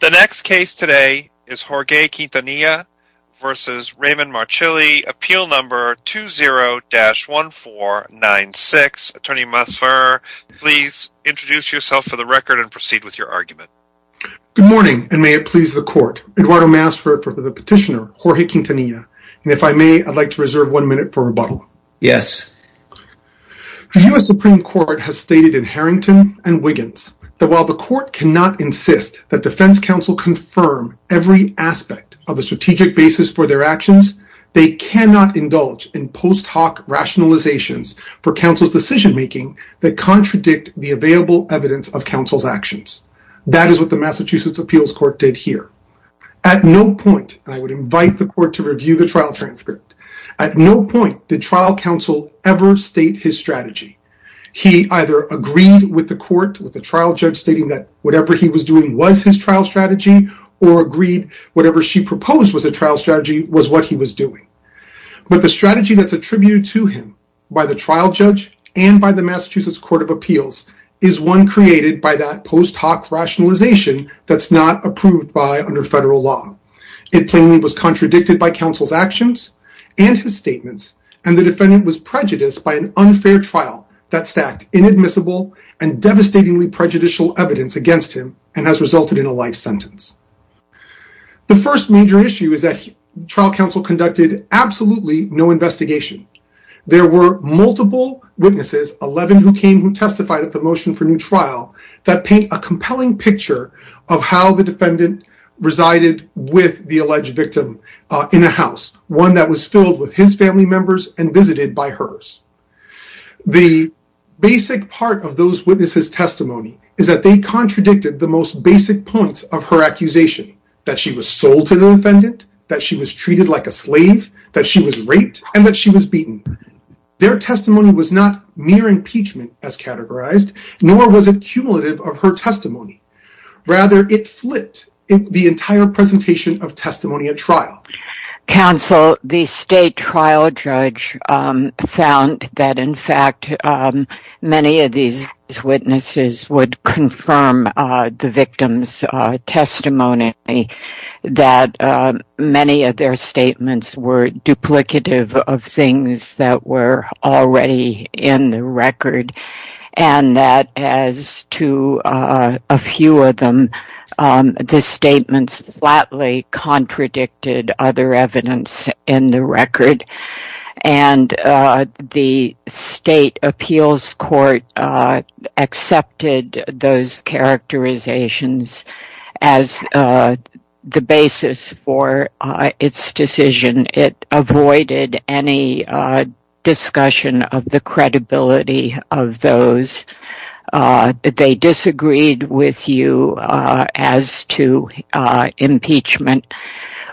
The next case today is Jorge Quintanilla v. Raymond Marchilli, appeal number 20-1496. Attorney Masfer, please introduce yourself for the record and proceed with your argument. Good morning, and may it please the court. Eduardo Masfer for the petitioner, Jorge Quintanilla. And if I may, I'd like to reserve one minute for rebuttal. Yes. The U.S. Supreme Court has stated in Harrington and Wiggins that while the court cannot insist that defense counsel confirm every aspect of a strategic basis for their actions, they cannot indulge in post hoc rationalizations for counsel's decision making that contradict the available evidence of counsel's actions. That is what the Massachusetts Appeals Court did here. At no point, and I would invite the court to review the trial transcript, at no point did trial counsel ever state his strategy. He either agreed with the court, with the trial judge stating that whatever he was doing was his trial strategy, or agreed whatever she proposed was a trial strategy was what he was doing. But the strategy that's attributed to him by the trial judge and by the Massachusetts Court of Appeals is one created by that post hoc rationalization that's not approved by under federal law. It plainly was contradicted by counsel's actions and his statements, and the defendant was prejudiced by an unfair trial that stacked inadmissible and devastatingly prejudicial evidence against him and has resulted in a life sentence. The first major issue is that trial counsel conducted absolutely no investigation. There were multiple witnesses, 11 who came who testified at the motion for new trial, that paint a compelling picture of how the defendant resided with the alleged victim in a house, one that was filled with his family members and visited by hers. The basic part of those witnesses' testimony is that they contradicted the most basic points of her accusation, that she was sold to the defendant, that she was treated like a slave, that she was raped, and that she was beaten. Their testimony was not mere impeachment as categorized, nor was it cumulative of her testimony. Rather, it flipped the entire presentation of testimony at trial. Counsel, the state trial judge found that in fact many of these witnesses would confirm the victim's testimony, that many of their statements were duplicative of things that were already in the record, and that as to a few of them, the statements slightly contradicted other evidence in the record. The state appeals court accepted those characterizations as the basis for its decision. It avoided any discussion of the credibility of those. They disagreed with you as to impeachment.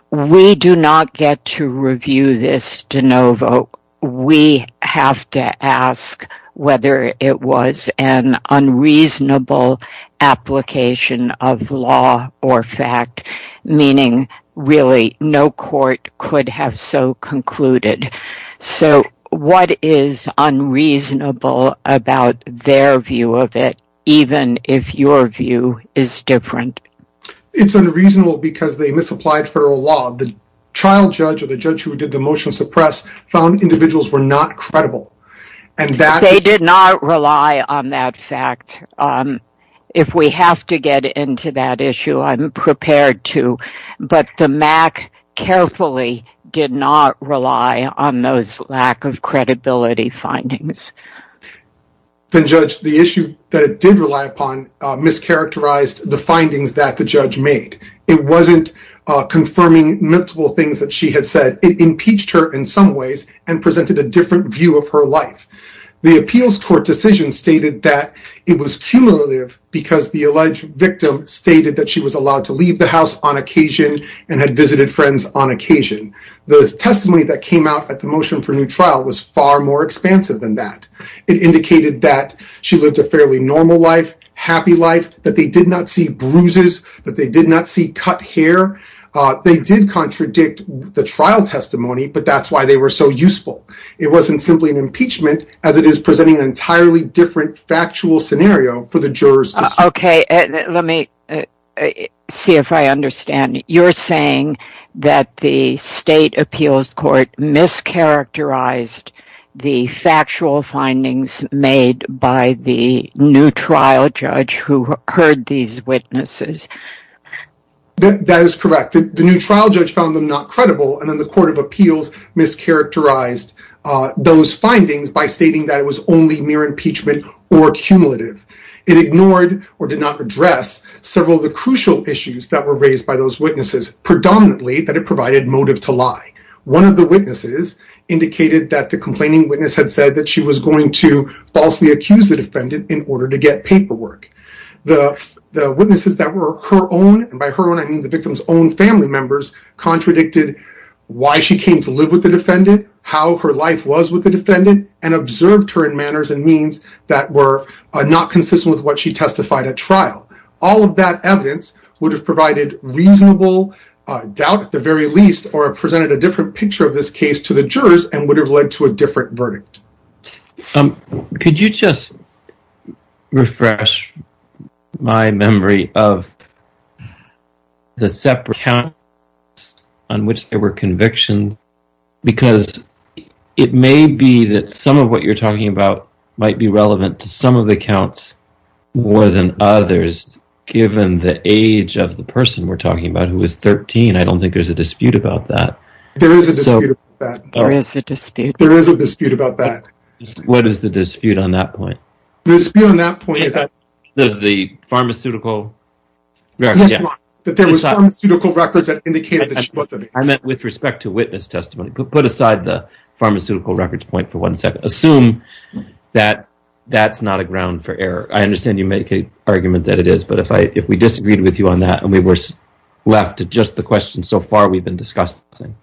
We do not get to review this de novo. We have to ask whether it was an unreasonable application of law or fact, meaning really no court could have so concluded. So what is unreasonable about their view of it, even if your view is different? It's unreasonable because they misapplied federal law. The child judge or the judge who did the motion to suppress found individuals were not credible. They did not rely on that fact. If we have to get into that issue, I'm prepared to, but the MAC carefully did not rely on those lack of credibility findings. The issue that it did rely upon mischaracterized the findings that the judge made. It wasn't confirming multiple things that she had said. It impeached her in some ways and presented a different view of her life. The appeals court decision stated that it was cumulative because the alleged victim stated that she was allowed to leave the house on occasion and had visited friends on occasion. The testimony that came out at the motion for new trial was far more expansive than that. It indicated that she lived a fairly normal life, happy life, that they did not see bruises, that they did not see cut hair. They did contradict the trial testimony, but that's why they were so useful. It wasn't simply an impeachment as it is presenting an entirely different factual scenario for the jurors. Let me see if I understand. You're saying that the state appeals court mischaracterized the factual findings made by the new trial judge who heard these witnesses. That is correct. The new trial judge found them not credible, and then the court of appeals mischaracterized those findings by stating that it was only mere impeachment or cumulative. It ignored or did not address several of the crucial issues that were raised by those witnesses, predominantly that it provided motive to lie. One of the witnesses indicated that the complaining witness had said that she was going to falsely accuse the defendant in order to get paperwork. The witnesses that were her own, and by her own I mean the victim's own family members, contradicted why she came to live with the defendant, how her life was with the defendant, and observed her in manners and means that were not consistent with what she testified at trial. All of that evidence would have provided reasonable doubt at the very least or presented a different picture of this case to the jurors and would have led to a different verdict. Could you just refresh my memory of the separate accounts on which there were convictions? Because it may be that some of what you're talking about might be relevant to some of the accounts more than others, given the age of the person we're talking about who is 13. I don't think there's a dispute about that. There is a dispute about that. What is the dispute on that point? The dispute on that point is that there was pharmaceutical records that indicated that she wasn't... I meant with respect to witness testimony. Put aside the pharmaceutical records point for one second. Assume that that's not a ground for error. I understand you make an argument that it is, but if we disagreed with you on that and we were left to just the questions so far we've been discussing...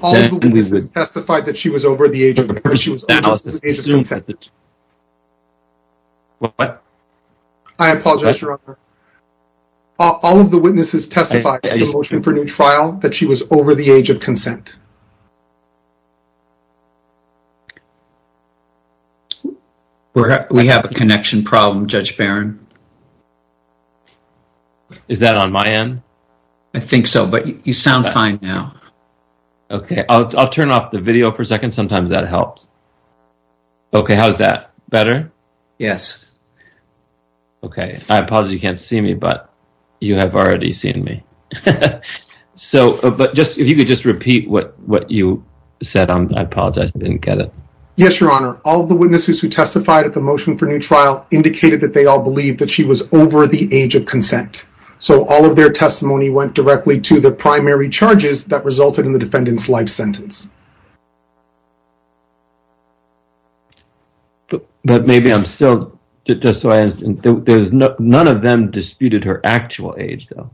All of the witnesses testified that she was over the age of consent. What? I apologize, Your Honor. All of the witnesses testified in the motion for new trial that she was over the age of consent. We have a connection problem, Judge Barron. Is that on my end? I think so, but you sound fine now. Okay, I'll turn off the video for a second. Sometimes that helps. Okay, how's that? Better? Yes. Okay, I apologize you can't see me, but you have already seen me. So, if you could just repeat what you said. I apologize, I didn't get it. Yes, Your Honor. All of the witnesses who testified at the motion for new trial indicated that they all believed that she was over the age of consent. So, all of their testimony went directly to the primary charges that resulted in the defendant's life sentence. But maybe I'm still... None of them disputed her actual age, though.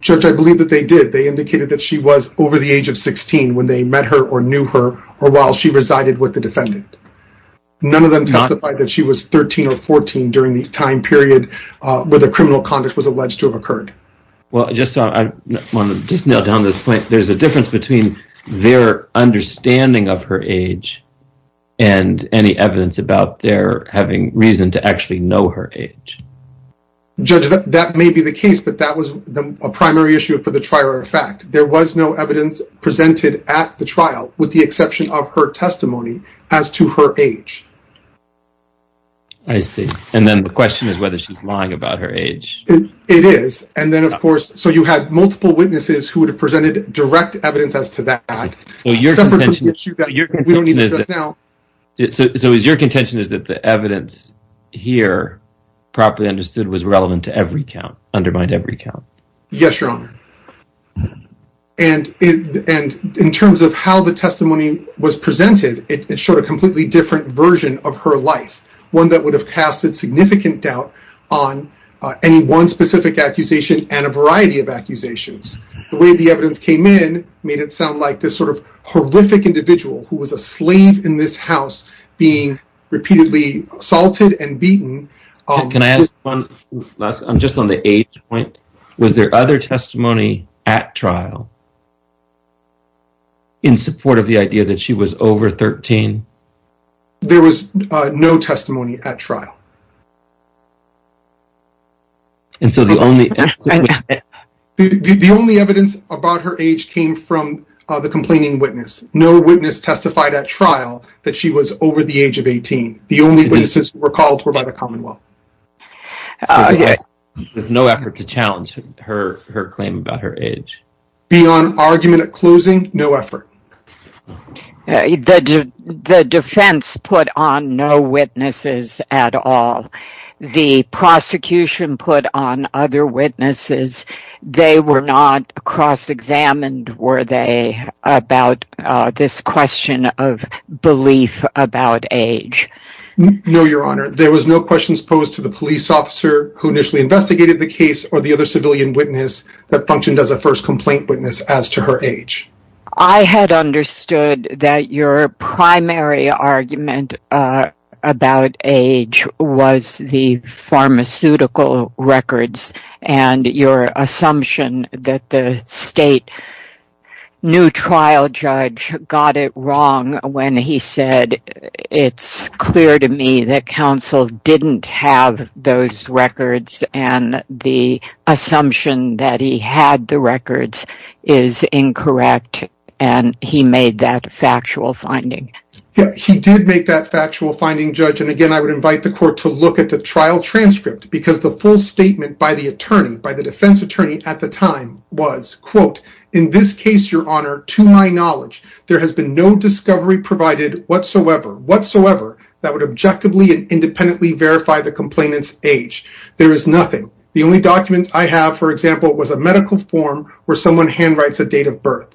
Judge, I believe that they did. They indicated that she was over the age of 16 when they met her or knew her or while she resided with the defendant. None of them testified that she was 13 or 14 during the time period where the criminal conduct was alleged to have occurred. Well, just to nail down this point, there's a difference between their understanding of her age and any evidence about their having reason to actually know her age. Judge, that may be the case, but that was a primary issue for the trial, in fact. There was no evidence presented at the trial, with the exception of her testimony, as to her age. I see. And then the question is whether she's lying about her age. It is. And then, of course, so you had multiple witnesses who would have presented direct evidence as to that. So, your contention is that the evidence here, properly understood, was relevant to every count, undermined every count? Yes, Your Honor. And in terms of how the testimony was presented, it showed a completely different version of her life. One that would have casted significant doubt on any one specific accusation and a variety of accusations. The way the evidence came in made it sound like this sort of horrific individual who was a slave in this house being repeatedly assaulted and beaten. Can I ask one? I'm just on the age point. Was there other testimony at trial in support of the idea that she was over 13? There was no testimony at trial. And so the only evidence about her age came from the complaining witness. No witness testified at trial that she was over the age of 18. The only witnesses who were called were by the Commonwealth. With no effort to challenge her claim about her age? Beyond argument at closing, no effort. The defense put on no witnesses at all. The prosecution put on other witnesses. They were not cross-examined, were they, about this question of belief about age? No, Your Honor. There was no questions posed to the police officer who initially investigated the case or the other civilian witness that functioned as a first complaint witness as to her age. I had understood that your primary argument about age was the pharmaceutical records and your assumption that the state new trial judge got it wrong when he said, it's clear to me that counsel didn't have those records and the assumption that he had the records is incorrect and he made that factual finding. He did make that factual finding, Judge. And again, I would invite the court to look at the trial transcript because the full statement by the attorney, by the defense attorney at the time was, quote, in this case, Your Honor, to my knowledge, there has been no discovery provided whatsoever, whatsoever that would objectively and independently verify the complainant's age. There is nothing. The only documents I have, for example, was a medical form where someone handwrites a date of birth.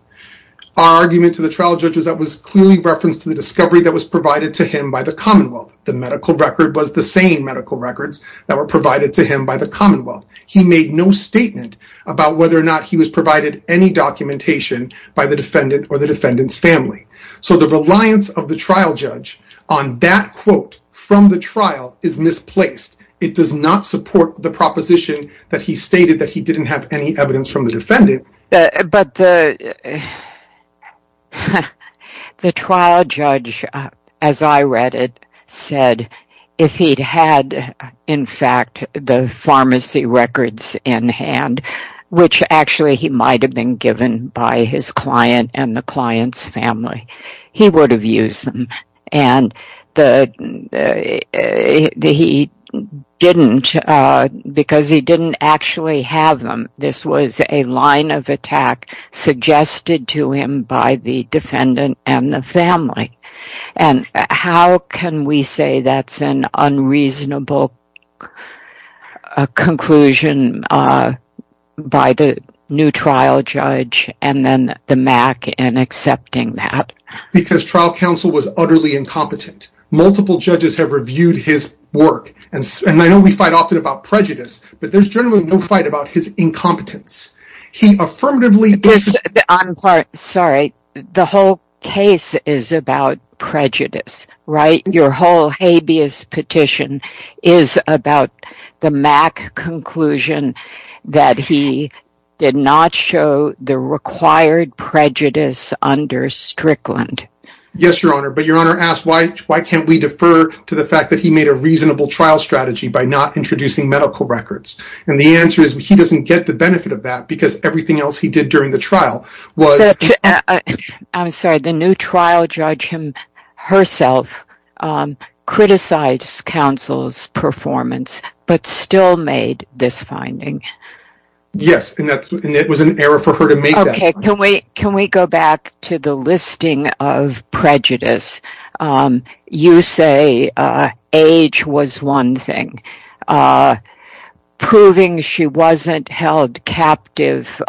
Our argument to the trial judge was that was clearly referenced to the discovery that was provided to him by the Commonwealth. The medical record was the same medical records that were provided to him by the Commonwealth. He made no statement about whether or not he was provided any documentation by the defendant or the defendant's family. So the reliance of the trial judge on that quote from the trial is misplaced. It does not support the proposition that he stated that he didn't have any evidence from the defendant. But the trial judge, as I read it, said if he'd had, in fact, the pharmacy records in hand, which actually he might have been given by his client and the client's family, he would have used them. And he didn't because he didn't actually have them. This was a line of attack suggested to him by the defendant and the family. And how can we say that's an unreasonable conclusion by the new trial judge and then the MAC in accepting that? Because trial counsel was utterly incompetent. Multiple judges have reviewed his work. And I know we fight often about prejudice, but there's generally no fight about his incompetence. I'm sorry. The whole case is about prejudice, right? Your whole habeas petition is about the MAC conclusion that he did not show the required prejudice under Strickland. Yes, Your Honor. But Your Honor asked, why can't we defer to the fact that he made a reasonable trial strategy by not introducing medical records? And the answer is he doesn't get the benefit of that because everything else he did during the trial was... I'm sorry. The new trial judge herself criticized counsel's performance but still made this finding. Yes, and it was an error for her to make that. Can we go back to the listing of prejudice? You say age was one thing. Proving she wasn't held captive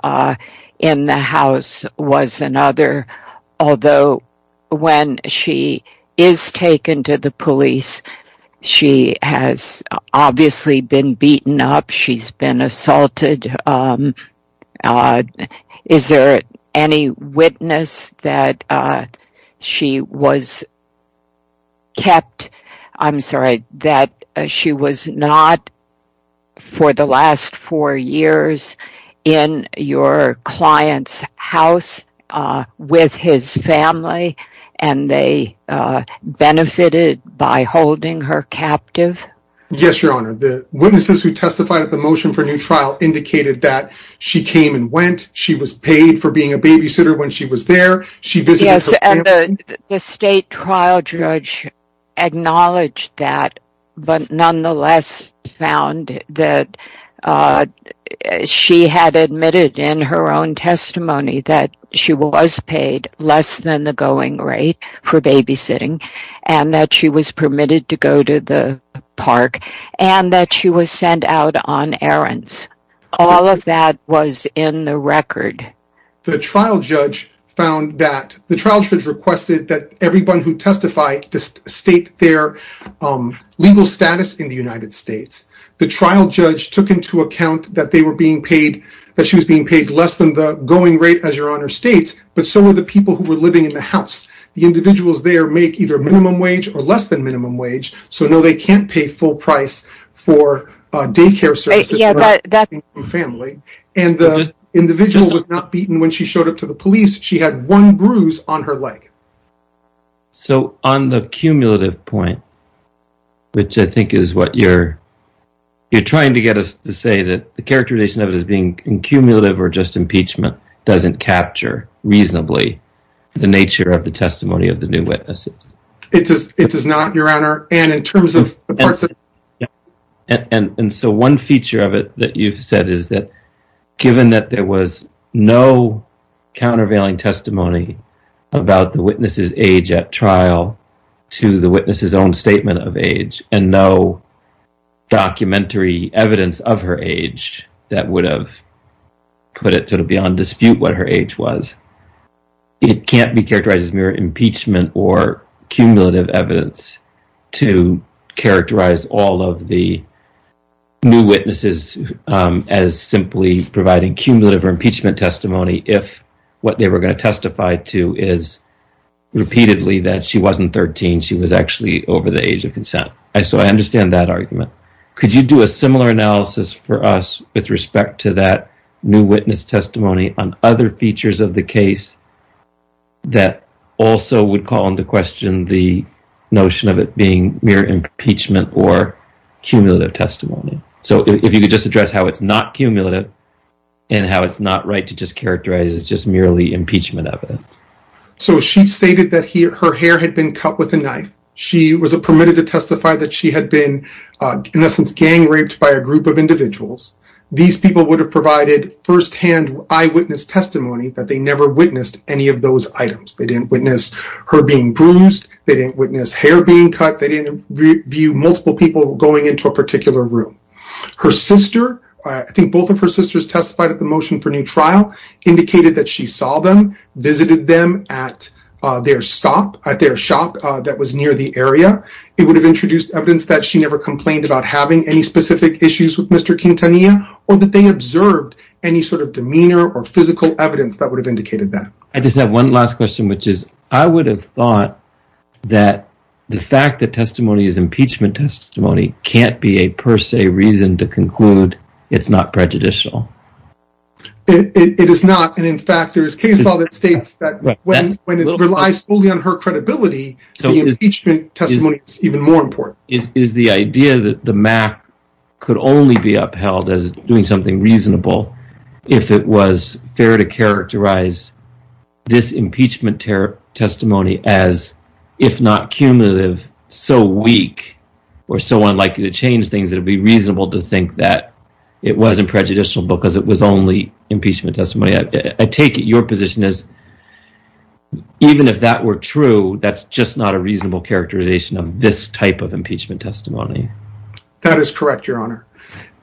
in the house was another. Although when she is taken to the police, she has obviously been beaten up. She's been assaulted. Is there any witness that she was kept... I'm sorry, that she was not for the last four years in your client's house with his family and they benefited by holding her captive? Yes, Your Honor. The witnesses who testified at the motion for new trial indicated that she came and went. She was paid for being a babysitter when she was there. Yes, and the state trial judge acknowledged that but nonetheless found that she had admitted in her own testimony that she was paid less than the going rate for babysitting and that she was permitted to go to the park and that she was sent out on errands. All of that was in the record. The trial judge requested that everyone who testified state their legal status in the United States. The trial judge took into account that she was being paid less than the going rate as Your Honor states, but so were the people who were living in the house. The individuals there make either minimum wage or less than minimum wage, so no, they can't pay full price for daycare services. The individual was not beaten when she showed up to the police. She had one bruise on her leg. On the cumulative point, which I think is what you're trying to get us to say, the characterization of it as being cumulative or just impeachment doesn't capture reasonably the nature of the testimony of the new witnesses. It does not, Your Honor. One feature of it that you've said is that given that there was no countervailing testimony about the witness's age at trial to the witness's own statement of age and no documentary evidence of her age that would have put it beyond dispute what her age was, it can't be characterized as mere impeachment or cumulative evidence. To characterize all of the new witnesses as simply providing cumulative impeachment testimony if what they were going to testify to is repeatedly that she wasn't 13, she was actually over the age of consent. So I understand that argument. Could you do a similar analysis for us with respect to that new witness testimony on other features of the case that also would call into question the notion of it being mere impeachment or cumulative testimony? So if you could just address how it's not cumulative and how it's not right to just characterize it as merely impeachment evidence. So she stated that her hair had been cut with a knife. She was permitted to testify that she had been, in essence, gang raped by a group of individuals. These people would have provided firsthand eyewitness testimony that they never witnessed any of those items. They didn't witness her being bruised. They didn't witness hair being cut. They didn't view multiple people going into a particular room. Her sister, I think both of her sisters testified at the motion for new trial, indicated that she saw them, visited them at their stop, at their shop that was near the area. It would have introduced evidence that she never complained about having any specific issues with Mr. Quintanilla or that they observed any sort of demeanor or physical evidence that would have indicated that. I just have one last question, which is I would have thought that the fact that testimony is impeachment testimony can't be a per se reason to conclude it's not prejudicial. It is not. And in fact, there is case law that states that when it relies solely on her credibility, the impeachment testimony is even more important. Is the idea that the math could only be upheld as doing something reasonable if it was fair to characterize this impeachment testimony as, if not cumulative, so weak or so unlikely to change things, it would be reasonable to think that it wasn't prejudicial because it was only impeachment testimony. I take it your position is even if that were true, that's just not a reasonable characterization of this type of impeachment testimony. That is correct, Your Honor.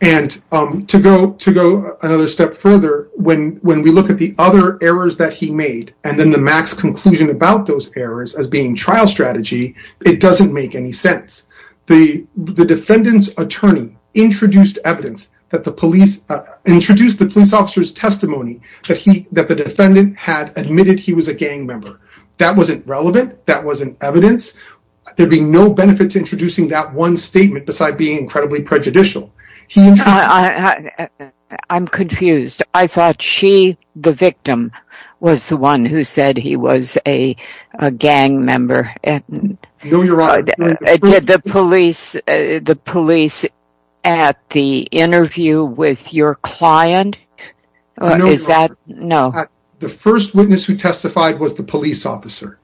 And to go to go another step further, when when we look at the other errors that he made and then the max conclusion about those errors as being trial strategy, it doesn't make any sense. The defendant's attorney introduced evidence that the police introduced the police officer's testimony that he that the defendant had admitted he was a gang member. That wasn't relevant. That wasn't evidence. There'd be no benefit to introducing that one statement beside being incredibly prejudicial. I'm confused. I thought she, the victim, was the one who said he was a gang member. No, Your Honor. Did the police at the interview with your client? No, Your Honor. The witness who testified was the police officer.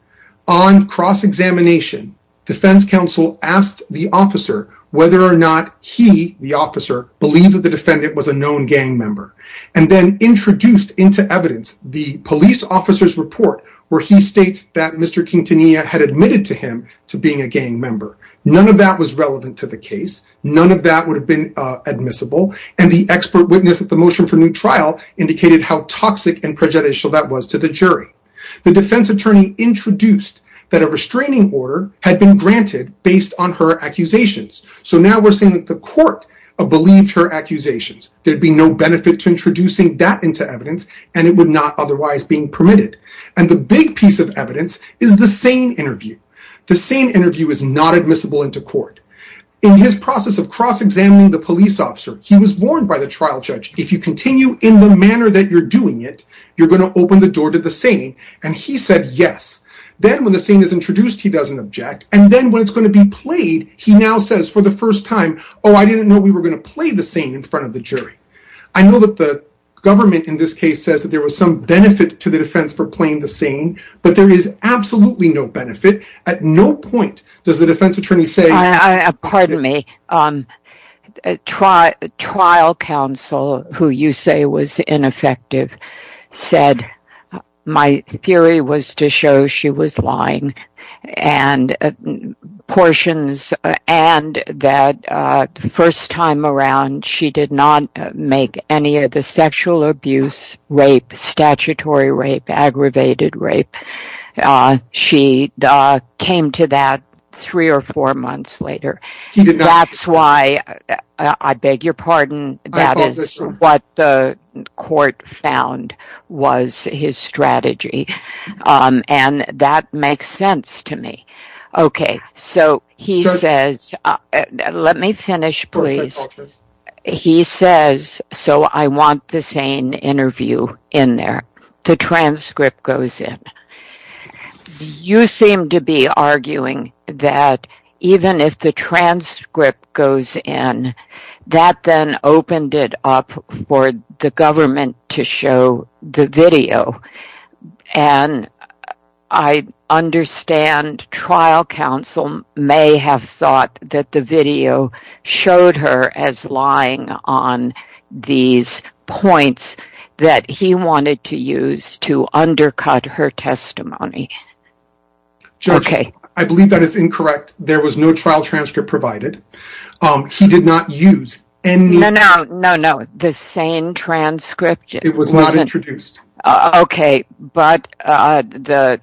On cross-examination, defense counsel asked the officer whether or not he, the officer, believes that the defendant was a known gang member. And then introduced into evidence the police officer's report where he states that Mr. Quintanilla had admitted to him to being a gang member. None of that was relevant to the case. None of that would have been admissible. And the expert witness at the motion for new trial indicated how toxic and prejudicial that was to the jury. The defense attorney introduced that a restraining order had been granted based on her accusations. So now we're saying that the court believed her accusations. There'd be no benefit to introducing that into evidence, and it would not otherwise being permitted. And the big piece of evidence is the SANE interview. The SANE interview is not admissible into court. In his process of cross-examining the police officer, he was warned by the trial judge, if you continue in the manner that you're doing it, you're going to open the door to the SANE. And he said yes. Then when the SANE is introduced, he doesn't object. And then when it's going to be played, he now says for the first time, oh, I didn't know we were going to play the SANE in front of the jury. I know that the government in this case says that there was some benefit to the defense for playing the SANE, but there is absolutely no benefit. At no point does the defense attorney say... make any of the sexual abuse, rape, statutory rape, aggravated rape. She came to that three or four months later. That's why, I beg your pardon, that is what the court found was his strategy. And that makes sense to me. He says, so I want the SANE interview in there. The transcript goes in. You seem to be arguing that even if the transcript goes in, that then opened it up for the government to show the video. And I understand trial counsel may have thought that the video showed her as lying on these points that he wanted to use to undercut her testimony. Judge, I believe that is incorrect. There was no trial transcript provided. He did not use any... No, no, no, the SANE transcript. It was not introduced. Okay, but the...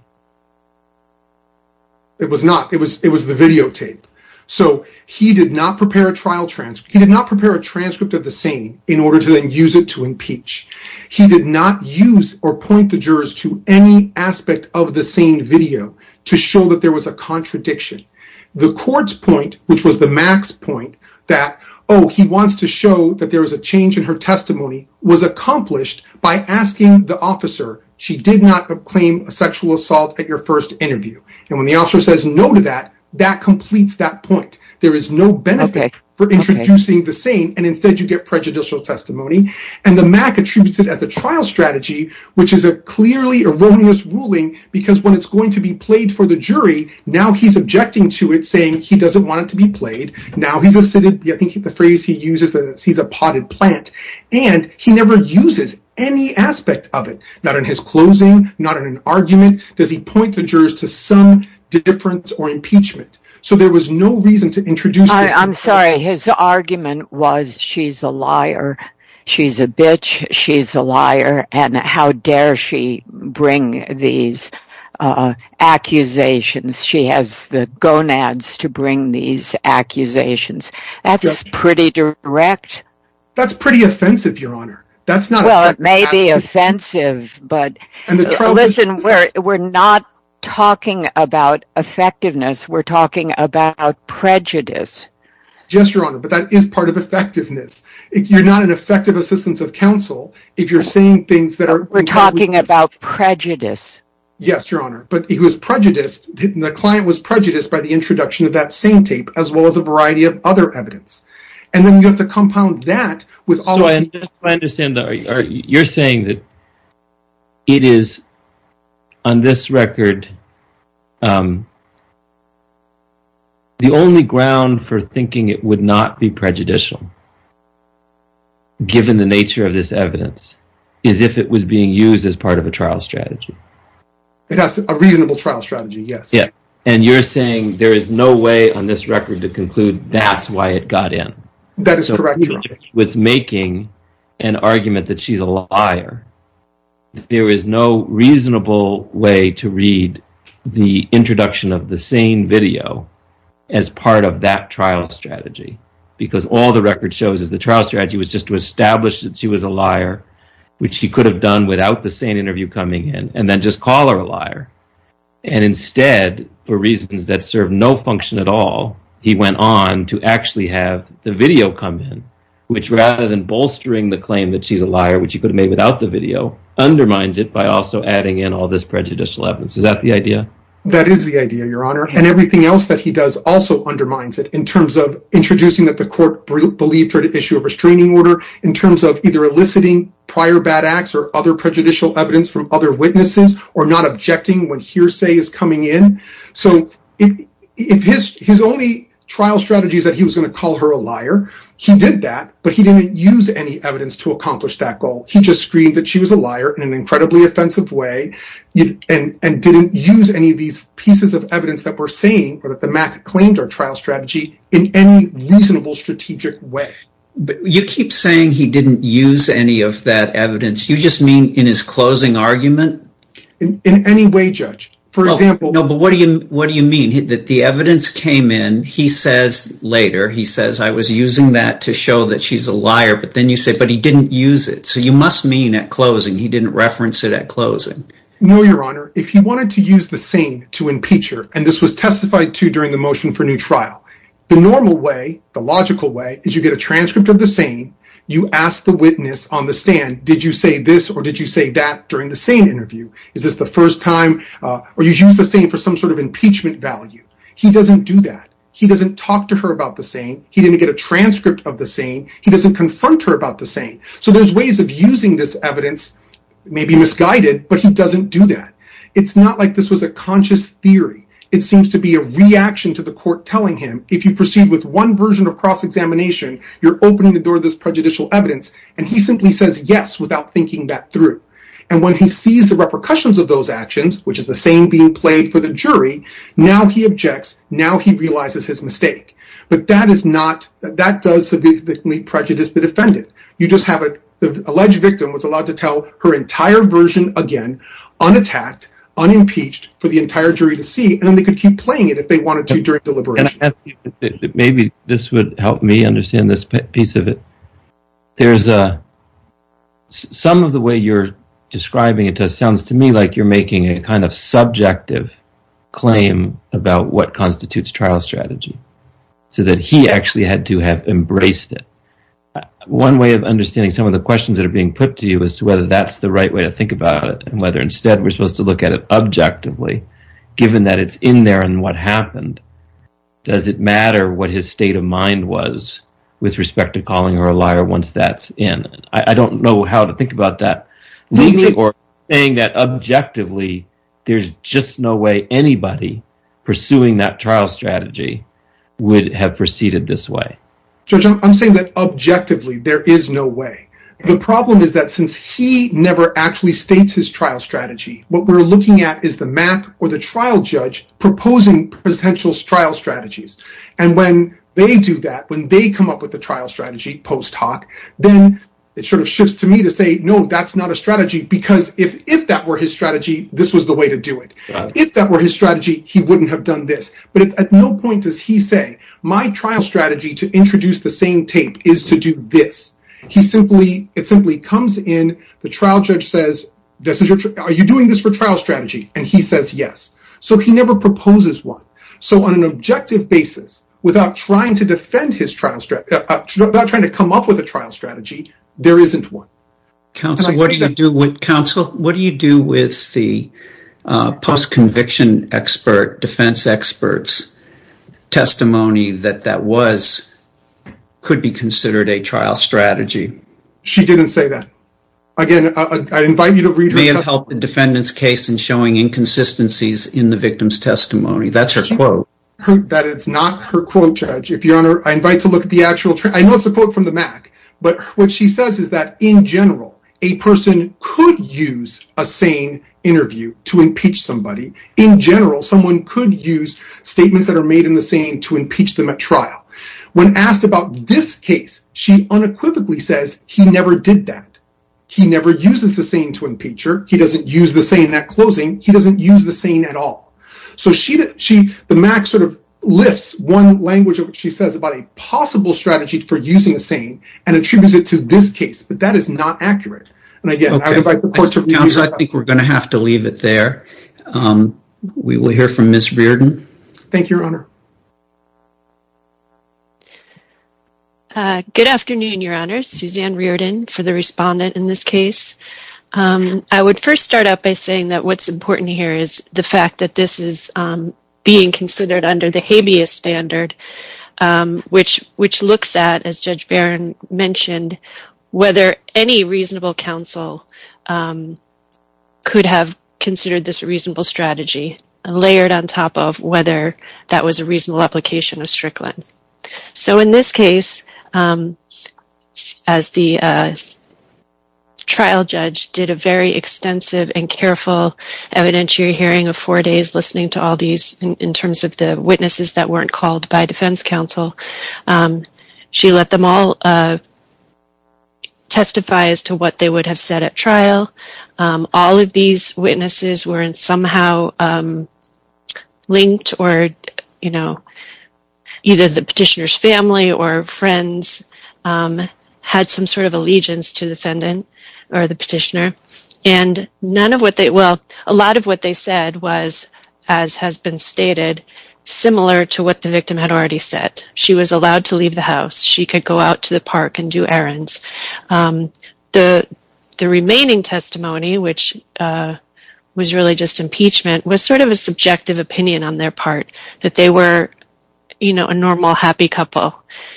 It was not. It was the videotape. So he did not prepare a trial transcript. He did not prepare a transcript of the SANE in order to then use it to impeach. He did not use or point the jurors to any aspect of the SANE video to show that there was a contradiction. The court's point, which was the MAC's point, that, oh, he wants to show that there was a change in her testimony, was accomplished by asking the officer, she did not claim a sexual assault at your first interview. And when the officer says no to that, that completes that point. There is no benefit for introducing the SANE, and instead you get prejudicial testimony. And the MAC attributes it as a trial strategy, which is a clearly erroneous ruling, because when it's going to be played for the jury, now he's objecting to it, saying he doesn't want it to be played. Now he's a... I think the phrase he uses is he's a potted plant. And he never uses any aspect of it, not in his closing, not in an argument. Does he point the jurors to some difference or impeachment? So there was no reason to introduce this... Well, it may be offensive, but listen, we're not talking about effectiveness, we're talking about prejudice. Yes, Your Honor, but that is part of effectiveness. If you're not an effective assistant of counsel, if you're saying things that are... We're talking about prejudice. Yes, Your Honor, but he was prejudiced, the client was prejudiced by the introduction of that SANE tape, as well as a variety of other evidence. And then you have to compound that with all... I understand that you're saying that it is, on this record, the only ground for thinking it would not be prejudicial, given the nature of this evidence, is if it was being used as part of a trial strategy. It has a reasonable trial strategy, yes. And you're saying there is no way on this record to conclude that's why it got in. That is correct, Your Honor. He was making an argument that she's a liar. There is no reasonable way to read the introduction of the SANE video as part of that trial strategy. Because all the record shows is the trial strategy was just to establish that she was a liar, which she could have done without the SANE interview coming in, and then just call her a liar. And instead, for reasons that serve no function at all, he went on to actually have the video come in, which rather than bolstering the claim that she's a liar, which he could have made without the video, undermines it by also adding in all this prejudicial evidence. Is that the idea? That is the idea, Your Honor. And everything else that he does also undermines it, in terms of introducing that the court believed her to issue a restraining order, in terms of either eliciting prior bad acts or other prejudicial evidence from other witnesses, or not objecting when hearsay is coming in. So, his only trial strategy is that he was going to call her a liar. He did that, but he didn't use any evidence to accomplish that goal. He just screamed that she was a liar in an incredibly offensive way, and didn't use any of these pieces of evidence that we're seeing, or that the MAC claimed are trial strategy, in any reasonable, strategic way. You keep saying he didn't use any of that evidence. You just mean in his closing argument? In any way, Judge. For example... No, but what do you mean? That the evidence came in, he says later, he says, I was using that to show that she's a liar, but then you say, but he didn't use it. So, you must mean at closing, he didn't reference it at closing. No, Your Honor. If he wanted to use the SANE to impeach her, and this was testified to during the motion for new trial, the normal way, the logical way, is you get a transcript of the SANE, you ask the witness on the stand, did you say this or did you say that during the SANE interview? Is this the first time, or you use the SANE for some sort of impeachment value? He doesn't do that. He doesn't talk to her about the SANE. He didn't get a transcript of the SANE. He doesn't confront her about the SANE. So, there's ways of using this evidence, maybe misguided, but he doesn't do that. It's not like this was a conscious theory. It seems to be a reaction to the court telling him, if you proceed with one version of cross-examination, you're opening the door to this prejudicial evidence, and he simply says yes without thinking that through. And when he sees the repercussions of those actions, which is the SANE being played for the jury, now he objects, now he realizes his mistake. But that is not, that does severely prejudice the defendant. You just have an alleged victim who's allowed to tell her entire version again, unattacked, unimpeached, for the entire jury to see, and then they could keep playing it if they wanted to during deliberation. Maybe this would help me understand this piece of it. Some of the way you're describing it sounds to me like you're making a kind of subjective claim about what constitutes trial strategy, so that he actually had to have embraced it. One way of understanding some of the questions that are being put to you as to whether that's the right way to think about it, and whether instead we're supposed to look at it objectively, given that it's in there and what happened, does it matter what his state of mind was with respect to calling her a liar once that's in? I don't know how to think about that. Or saying that objectively, there's just no way anybody pursuing that trial strategy would have proceeded this way. If that were his strategy, this was the way to do it. If that were his strategy, he wouldn't have done this. But at no point does he say, my trial strategy to introduce the same tape is to do this. It simply comes in, the trial judge says, are you doing this for trial strategy? And he says yes. So he never proposes one. So on an objective basis, without trying to come up with a trial strategy, there isn't one. Counsel, what do you do with the post-conviction expert, defense expert's testimony that that could be considered a trial strategy? She didn't say that. Again, I invite you to read her testimony. It may have helped the defendant's case in showing inconsistencies in the victim's testimony. That's her quote. That is not her quote, Judge. I know it's a quote from the MAC, but what she says is that in general, a person could use a SANE interview to impeach somebody. In general, someone could use statements that are made in the SANE to impeach them at trial. When asked about this case, she unequivocally says he never did that. He never uses the SANE to impeach her. He doesn't use the SANE at closing. He doesn't use the SANE at all. So the MAC sort of lifts one language of what she says about a possible strategy for using a SANE and attributes it to this case. But that is not accurate. Counsel, I think we're going to have to leave it there. We will hear from Ms. Reardon. Thank you, Your Honor. Good afternoon, Your Honor. Suzanne Reardon for the respondent in this case. I would first start out by saying that what's important here is the fact that this is being considered under the habeas standard, which looks at, as Judge Barron mentioned, whether any reasonable counsel could have considered this a reasonable strategy, layered on top of whether that was a reasonable application of Strickland. So in this case, as the trial judge did a very extensive and careful evidentiary hearing of four days listening to all these, in terms of the witnesses that weren't called by defense counsel, she let them all testify as to what they would have said at trial. All of these witnesses were somehow linked or, you know, either the petitioner's family or friends had some sort of allegiance to the defendant or the petitioner. And a lot of what they said was, as has been stated, similar to what the victim had already said. She was allowed to leave the house. She could go out to the park and do errands. The remaining testimony, which was really just impeachment, was sort of a subjective opinion on their part, that they were, you know, a normal, happy couple.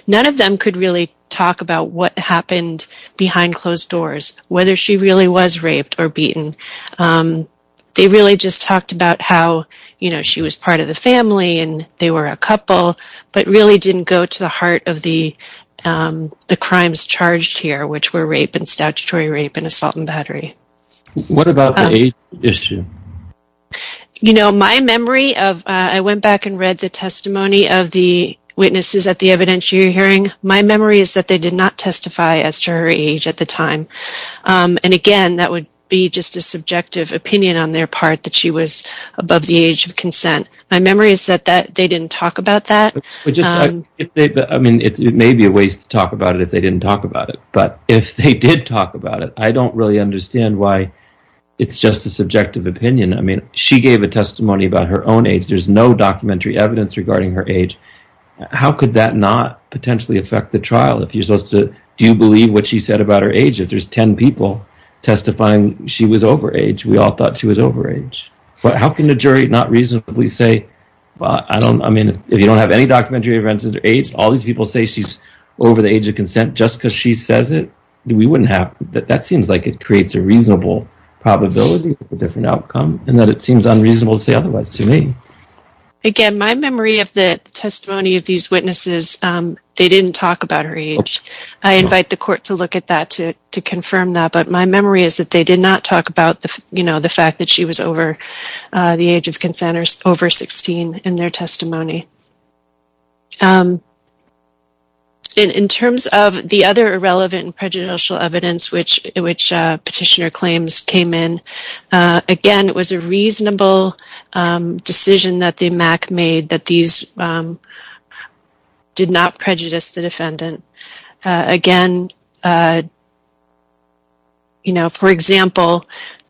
None of them could really talk about what happened behind closed doors, whether she really was raped or beaten. They really just talked about how, you know, she was part of the family and they were a couple, but really didn't go to the heart of the crimes charged here, which were rape and statutory rape and assault and battery. What about the age issue? You know, my memory of, I went back and read the testimony of the witnesses at the evidentiary hearing. My memory is that they did not testify as to her age at the time. And again, that would be just a subjective opinion on their part that she was above the age of consent. My memory is that they didn't talk about that. I mean, it may be a waste to talk about it if they didn't talk about it. But if they did talk about it, I don't really understand why it's just a subjective opinion. I mean, she gave a testimony about her own age. There's no documentary evidence regarding her age. How could that not potentially affect the trial? If you're supposed to do you believe what she said about her age? If there's 10 people testifying, she was over age. We all thought she was over age. But how can the jury not reasonably say, well, I don't, I mean, if you don't have any documentary evidence of her age, all these people say she's over the age of consent just because she says it. We wouldn't have, that seems like it creates a reasonable probability of a different outcome. And that it seems unreasonable to say otherwise to me. Again, my memory of the testimony of these witnesses, they didn't talk about her age. I invite the court to look at that to confirm that. But my memory is that they did not talk about the fact that she was over the age of consent or over 16 in their testimony. In terms of the other irrelevant and prejudicial evidence which Petitioner claims came in, again, it was a reasonable decision that the MAC made that these did not prejudice the defendant. Again, you know, for example,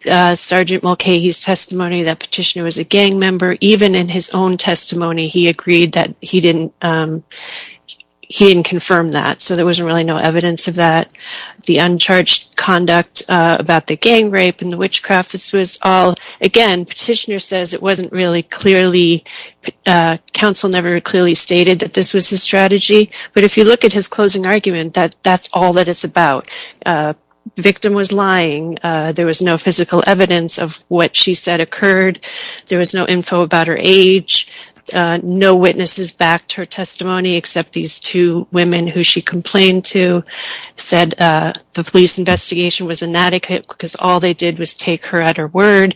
Sgt. Mulcahy's testimony that Petitioner was a gang member, even in his own testimony he agreed that he didn't confirm that. So there wasn't really no evidence of that. The uncharged conduct about the gang rape and the witchcraft, this was all, again, Petitioner says it wasn't really clearly, counsel never clearly stated that this was his strategy. But if you look at his closing argument, that's all that it's about. The victim was lying. There was no physical evidence of what she said occurred. There was no info about her age. No witnesses backed her testimony except these two women who she complained to, said the police investigation was inadequate because all they did was take her at her word.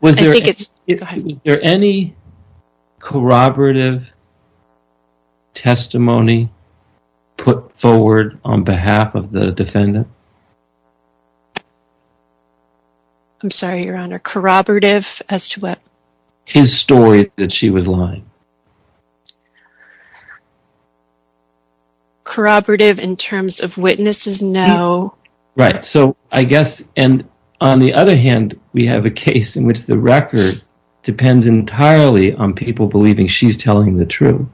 Was there any corroborative testimony put forward on behalf of the defendant? I'm sorry, Your Honor. Corroborative as to what? His story that she was lying. Corroborative in terms of witnesses? No. Right, so I guess, and on the other hand, we have a case in which the record depends entirely on people believing she's telling the truth.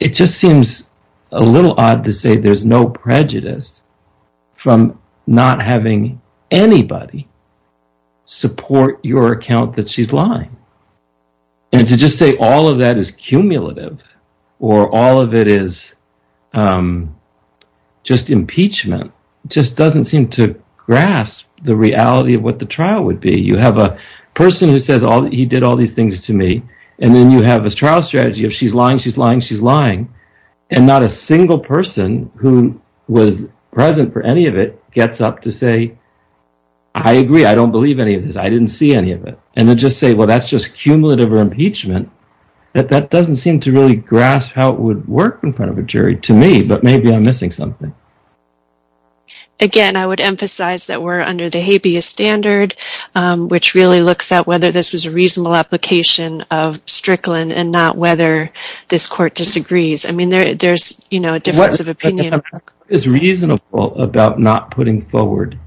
It just seems a little odd to say there's no prejudice from not having anybody support your account that she's lying. And to just say all of that is cumulative, or all of it is just impeachment, just doesn't seem to grasp the reality of what the trial would be. You have a person who says he did all these things to me, and then you have this trial strategy of she's lying, she's lying, she's lying, and not a single person who was present for any of it gets up to say, I agree, I don't believe any of this, I didn't see any of it, and then just say, well, that's just cumulative or impeachment, that doesn't seem to really grasp how it would work in front of a jury to me, but maybe I'm missing something. Again, I would emphasize that we're under the habeas standard, which really looks at whether this was a reasonable application of Strickland and not whether this court disagrees. I mean, there's a difference of opinion. It's reasonable about not putting forward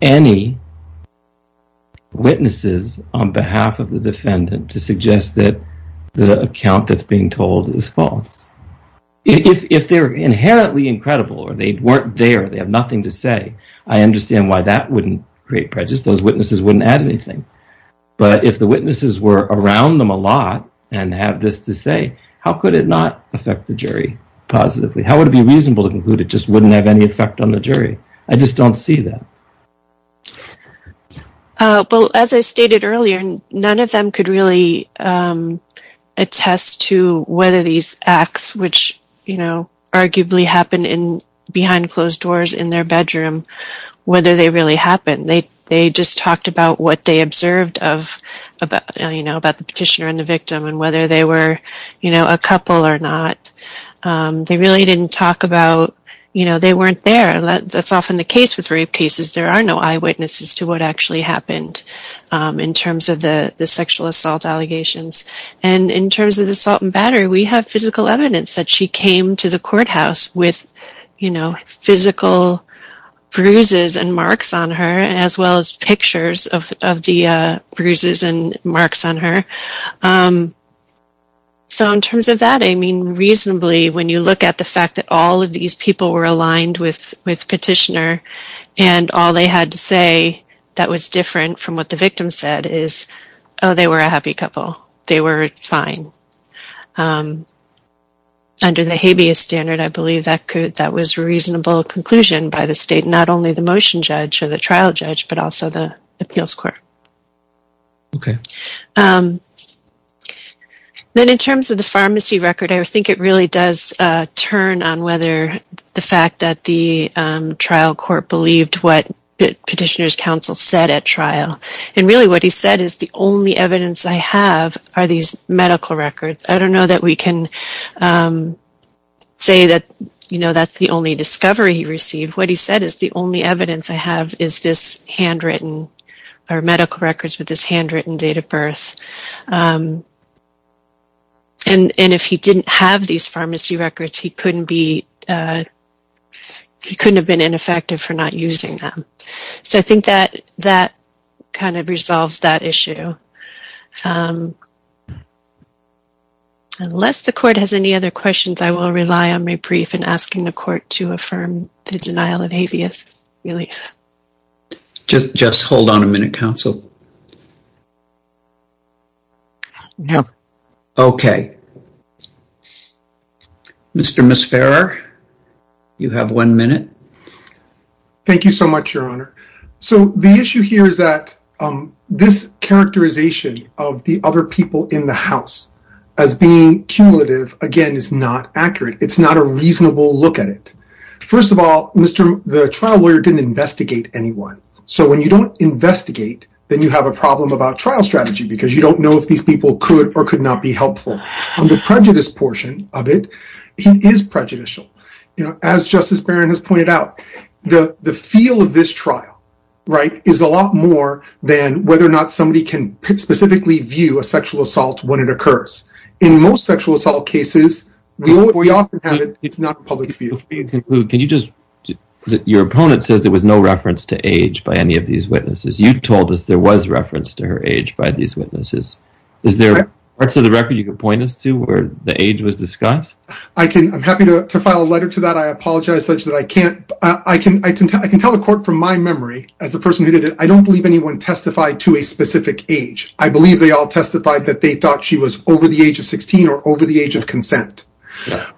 any witnesses on behalf of the defendant to suggest that the account that's being told is false. If they're inherently incredible or they weren't there, they have nothing to say, I understand why that wouldn't create prejudice, those witnesses wouldn't add anything. But if the witnesses were around them a lot and have this to say, how could it not affect the jury positively? How would it be reasonable to conclude it just wouldn't have any effect on the jury? I just don't see that. Well, as I stated earlier, none of them could really attest to whether these acts, which arguably happened behind closed doors in their bedroom, whether they really happened. They just talked about what they observed about the petitioner and the victim and whether they were a couple or not. They really didn't talk about, you know, they weren't there. That's often the case with rape cases. There are no eyewitnesses to what actually happened in terms of the sexual assault allegations. And in terms of the assault and battery, we have physical evidence that she came to the courthouse with physical bruises and marks on her as well as pictures of the bruises and marks on her. So in terms of that, I mean, reasonably, when you look at the fact that all of these people were aligned with petitioner and all they had to say that was different from what the victim said is, oh, they were a happy couple. They were fine. Under the habeas standard, I believe that was a reasonable conclusion by the state, not only the motion judge or the trial judge, but also the appeals court. Okay. Then in terms of the pharmacy record, I think it really does turn on whether the fact that the trial court believed what the petitioner's counsel said at trial. And really what he said is the only evidence I have are these medical records. I don't know that we can say that, you know, that's the only discovery he received. What he said is the only evidence I have is this handwritten or medical records with this handwritten date of birth. And if he didn't have these pharmacy records, he couldn't have been ineffective for not using them. So I think that kind of resolves that issue. Unless the court has any other questions, I will rely on my brief and asking the court to affirm the denial of habeas relief. Just hold on a minute, counsel. No. Okay. Mr. Misfarer, you have one minute. Thank you so much, Your Honor. So the issue here is that this characterization of the other people in the house as being cumulative, again, is not accurate. It's not a reasonable look at it. First of all, the trial lawyer didn't investigate anyone. So when you don't investigate, then you have a problem about trial strategy because you don't know if these people could or could not be helpful. On the prejudice portion of it, he is prejudicial. As Justice Barron has pointed out, the feel of this trial is a lot more than whether or not somebody can specifically view a sexual assault when it occurs. In most sexual assault cases, we often have it. It's not a public view. Before you conclude, your opponent says there was no reference to age by any of these witnesses. You told us there was reference to her age by these witnesses. Is there parts of the record you could point us to where the age was discussed? I'm happy to file a letter to that. I apologize, Judge, that I can't. I can tell the court from my memory, as the person who did it, I don't believe anyone testified to a specific age. I believe they all testified that they thought she was over the age of 16 or over the age of consent.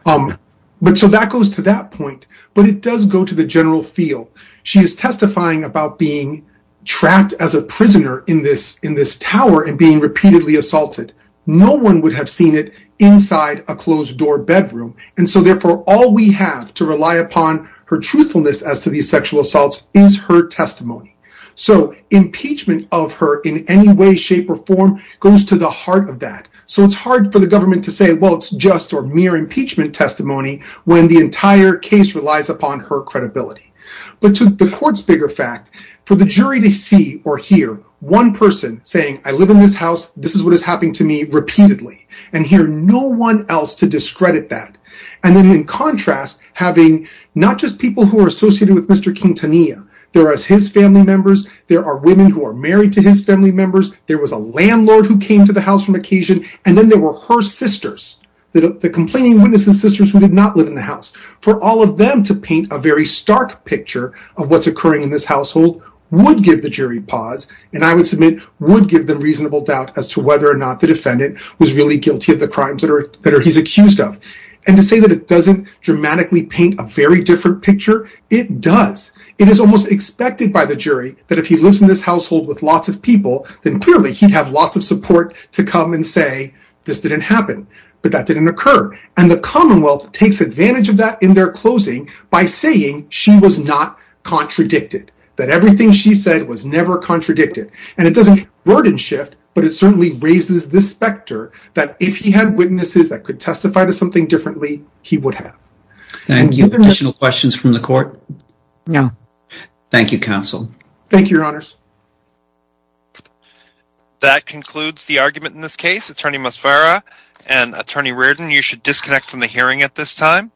So that goes to that point. But it does go to the general feel. She is testifying about being trapped as a prisoner in this tower and being repeatedly assaulted. No one would have seen it inside a closed-door bedroom. And so, therefore, all we have to rely upon her truthfulness as to these sexual assaults is her testimony. So impeachment of her in any way, shape, or form goes to the heart of that. So it's hard for the government to say, well, it's just or mere impeachment testimony when the entire case relies upon her credibility. But to the court's bigger fact, for the jury to see or hear one person saying, I live in this house. This is what is happening to me repeatedly. And hear no one else to discredit that. And then, in contrast, having not just people who are associated with Mr. Quintanilla. There are his family members. There are women who are married to his family members. There was a landlord who came to the house from occasion. And then there were her sisters, the complaining witness and sisters who did not live in the house. For all of them to paint a very stark picture of what's occurring in this household would give the jury pause. And I would submit would give them reasonable doubt as to whether or not the defendant was really guilty of the crimes that he's accused of. And to say that it doesn't dramatically paint a very different picture, it does. It is almost expected by the jury that if he lives in this household with lots of people, then clearly he'd have lots of support to come and say, this didn't happen. But that didn't occur. And the Commonwealth takes advantage of that in their closing by saying she was not contradicted. That everything she said was never contradicted. And it doesn't burden shift, but it certainly raises the specter that if he had witnesses that could testify to something differently, he would have. Thank you. Additional questions from the court? No. Thank you, counsel. Thank you, your honors. That concludes the argument in this case. And attorney Reardon, you should disconnect from the hearing at this time.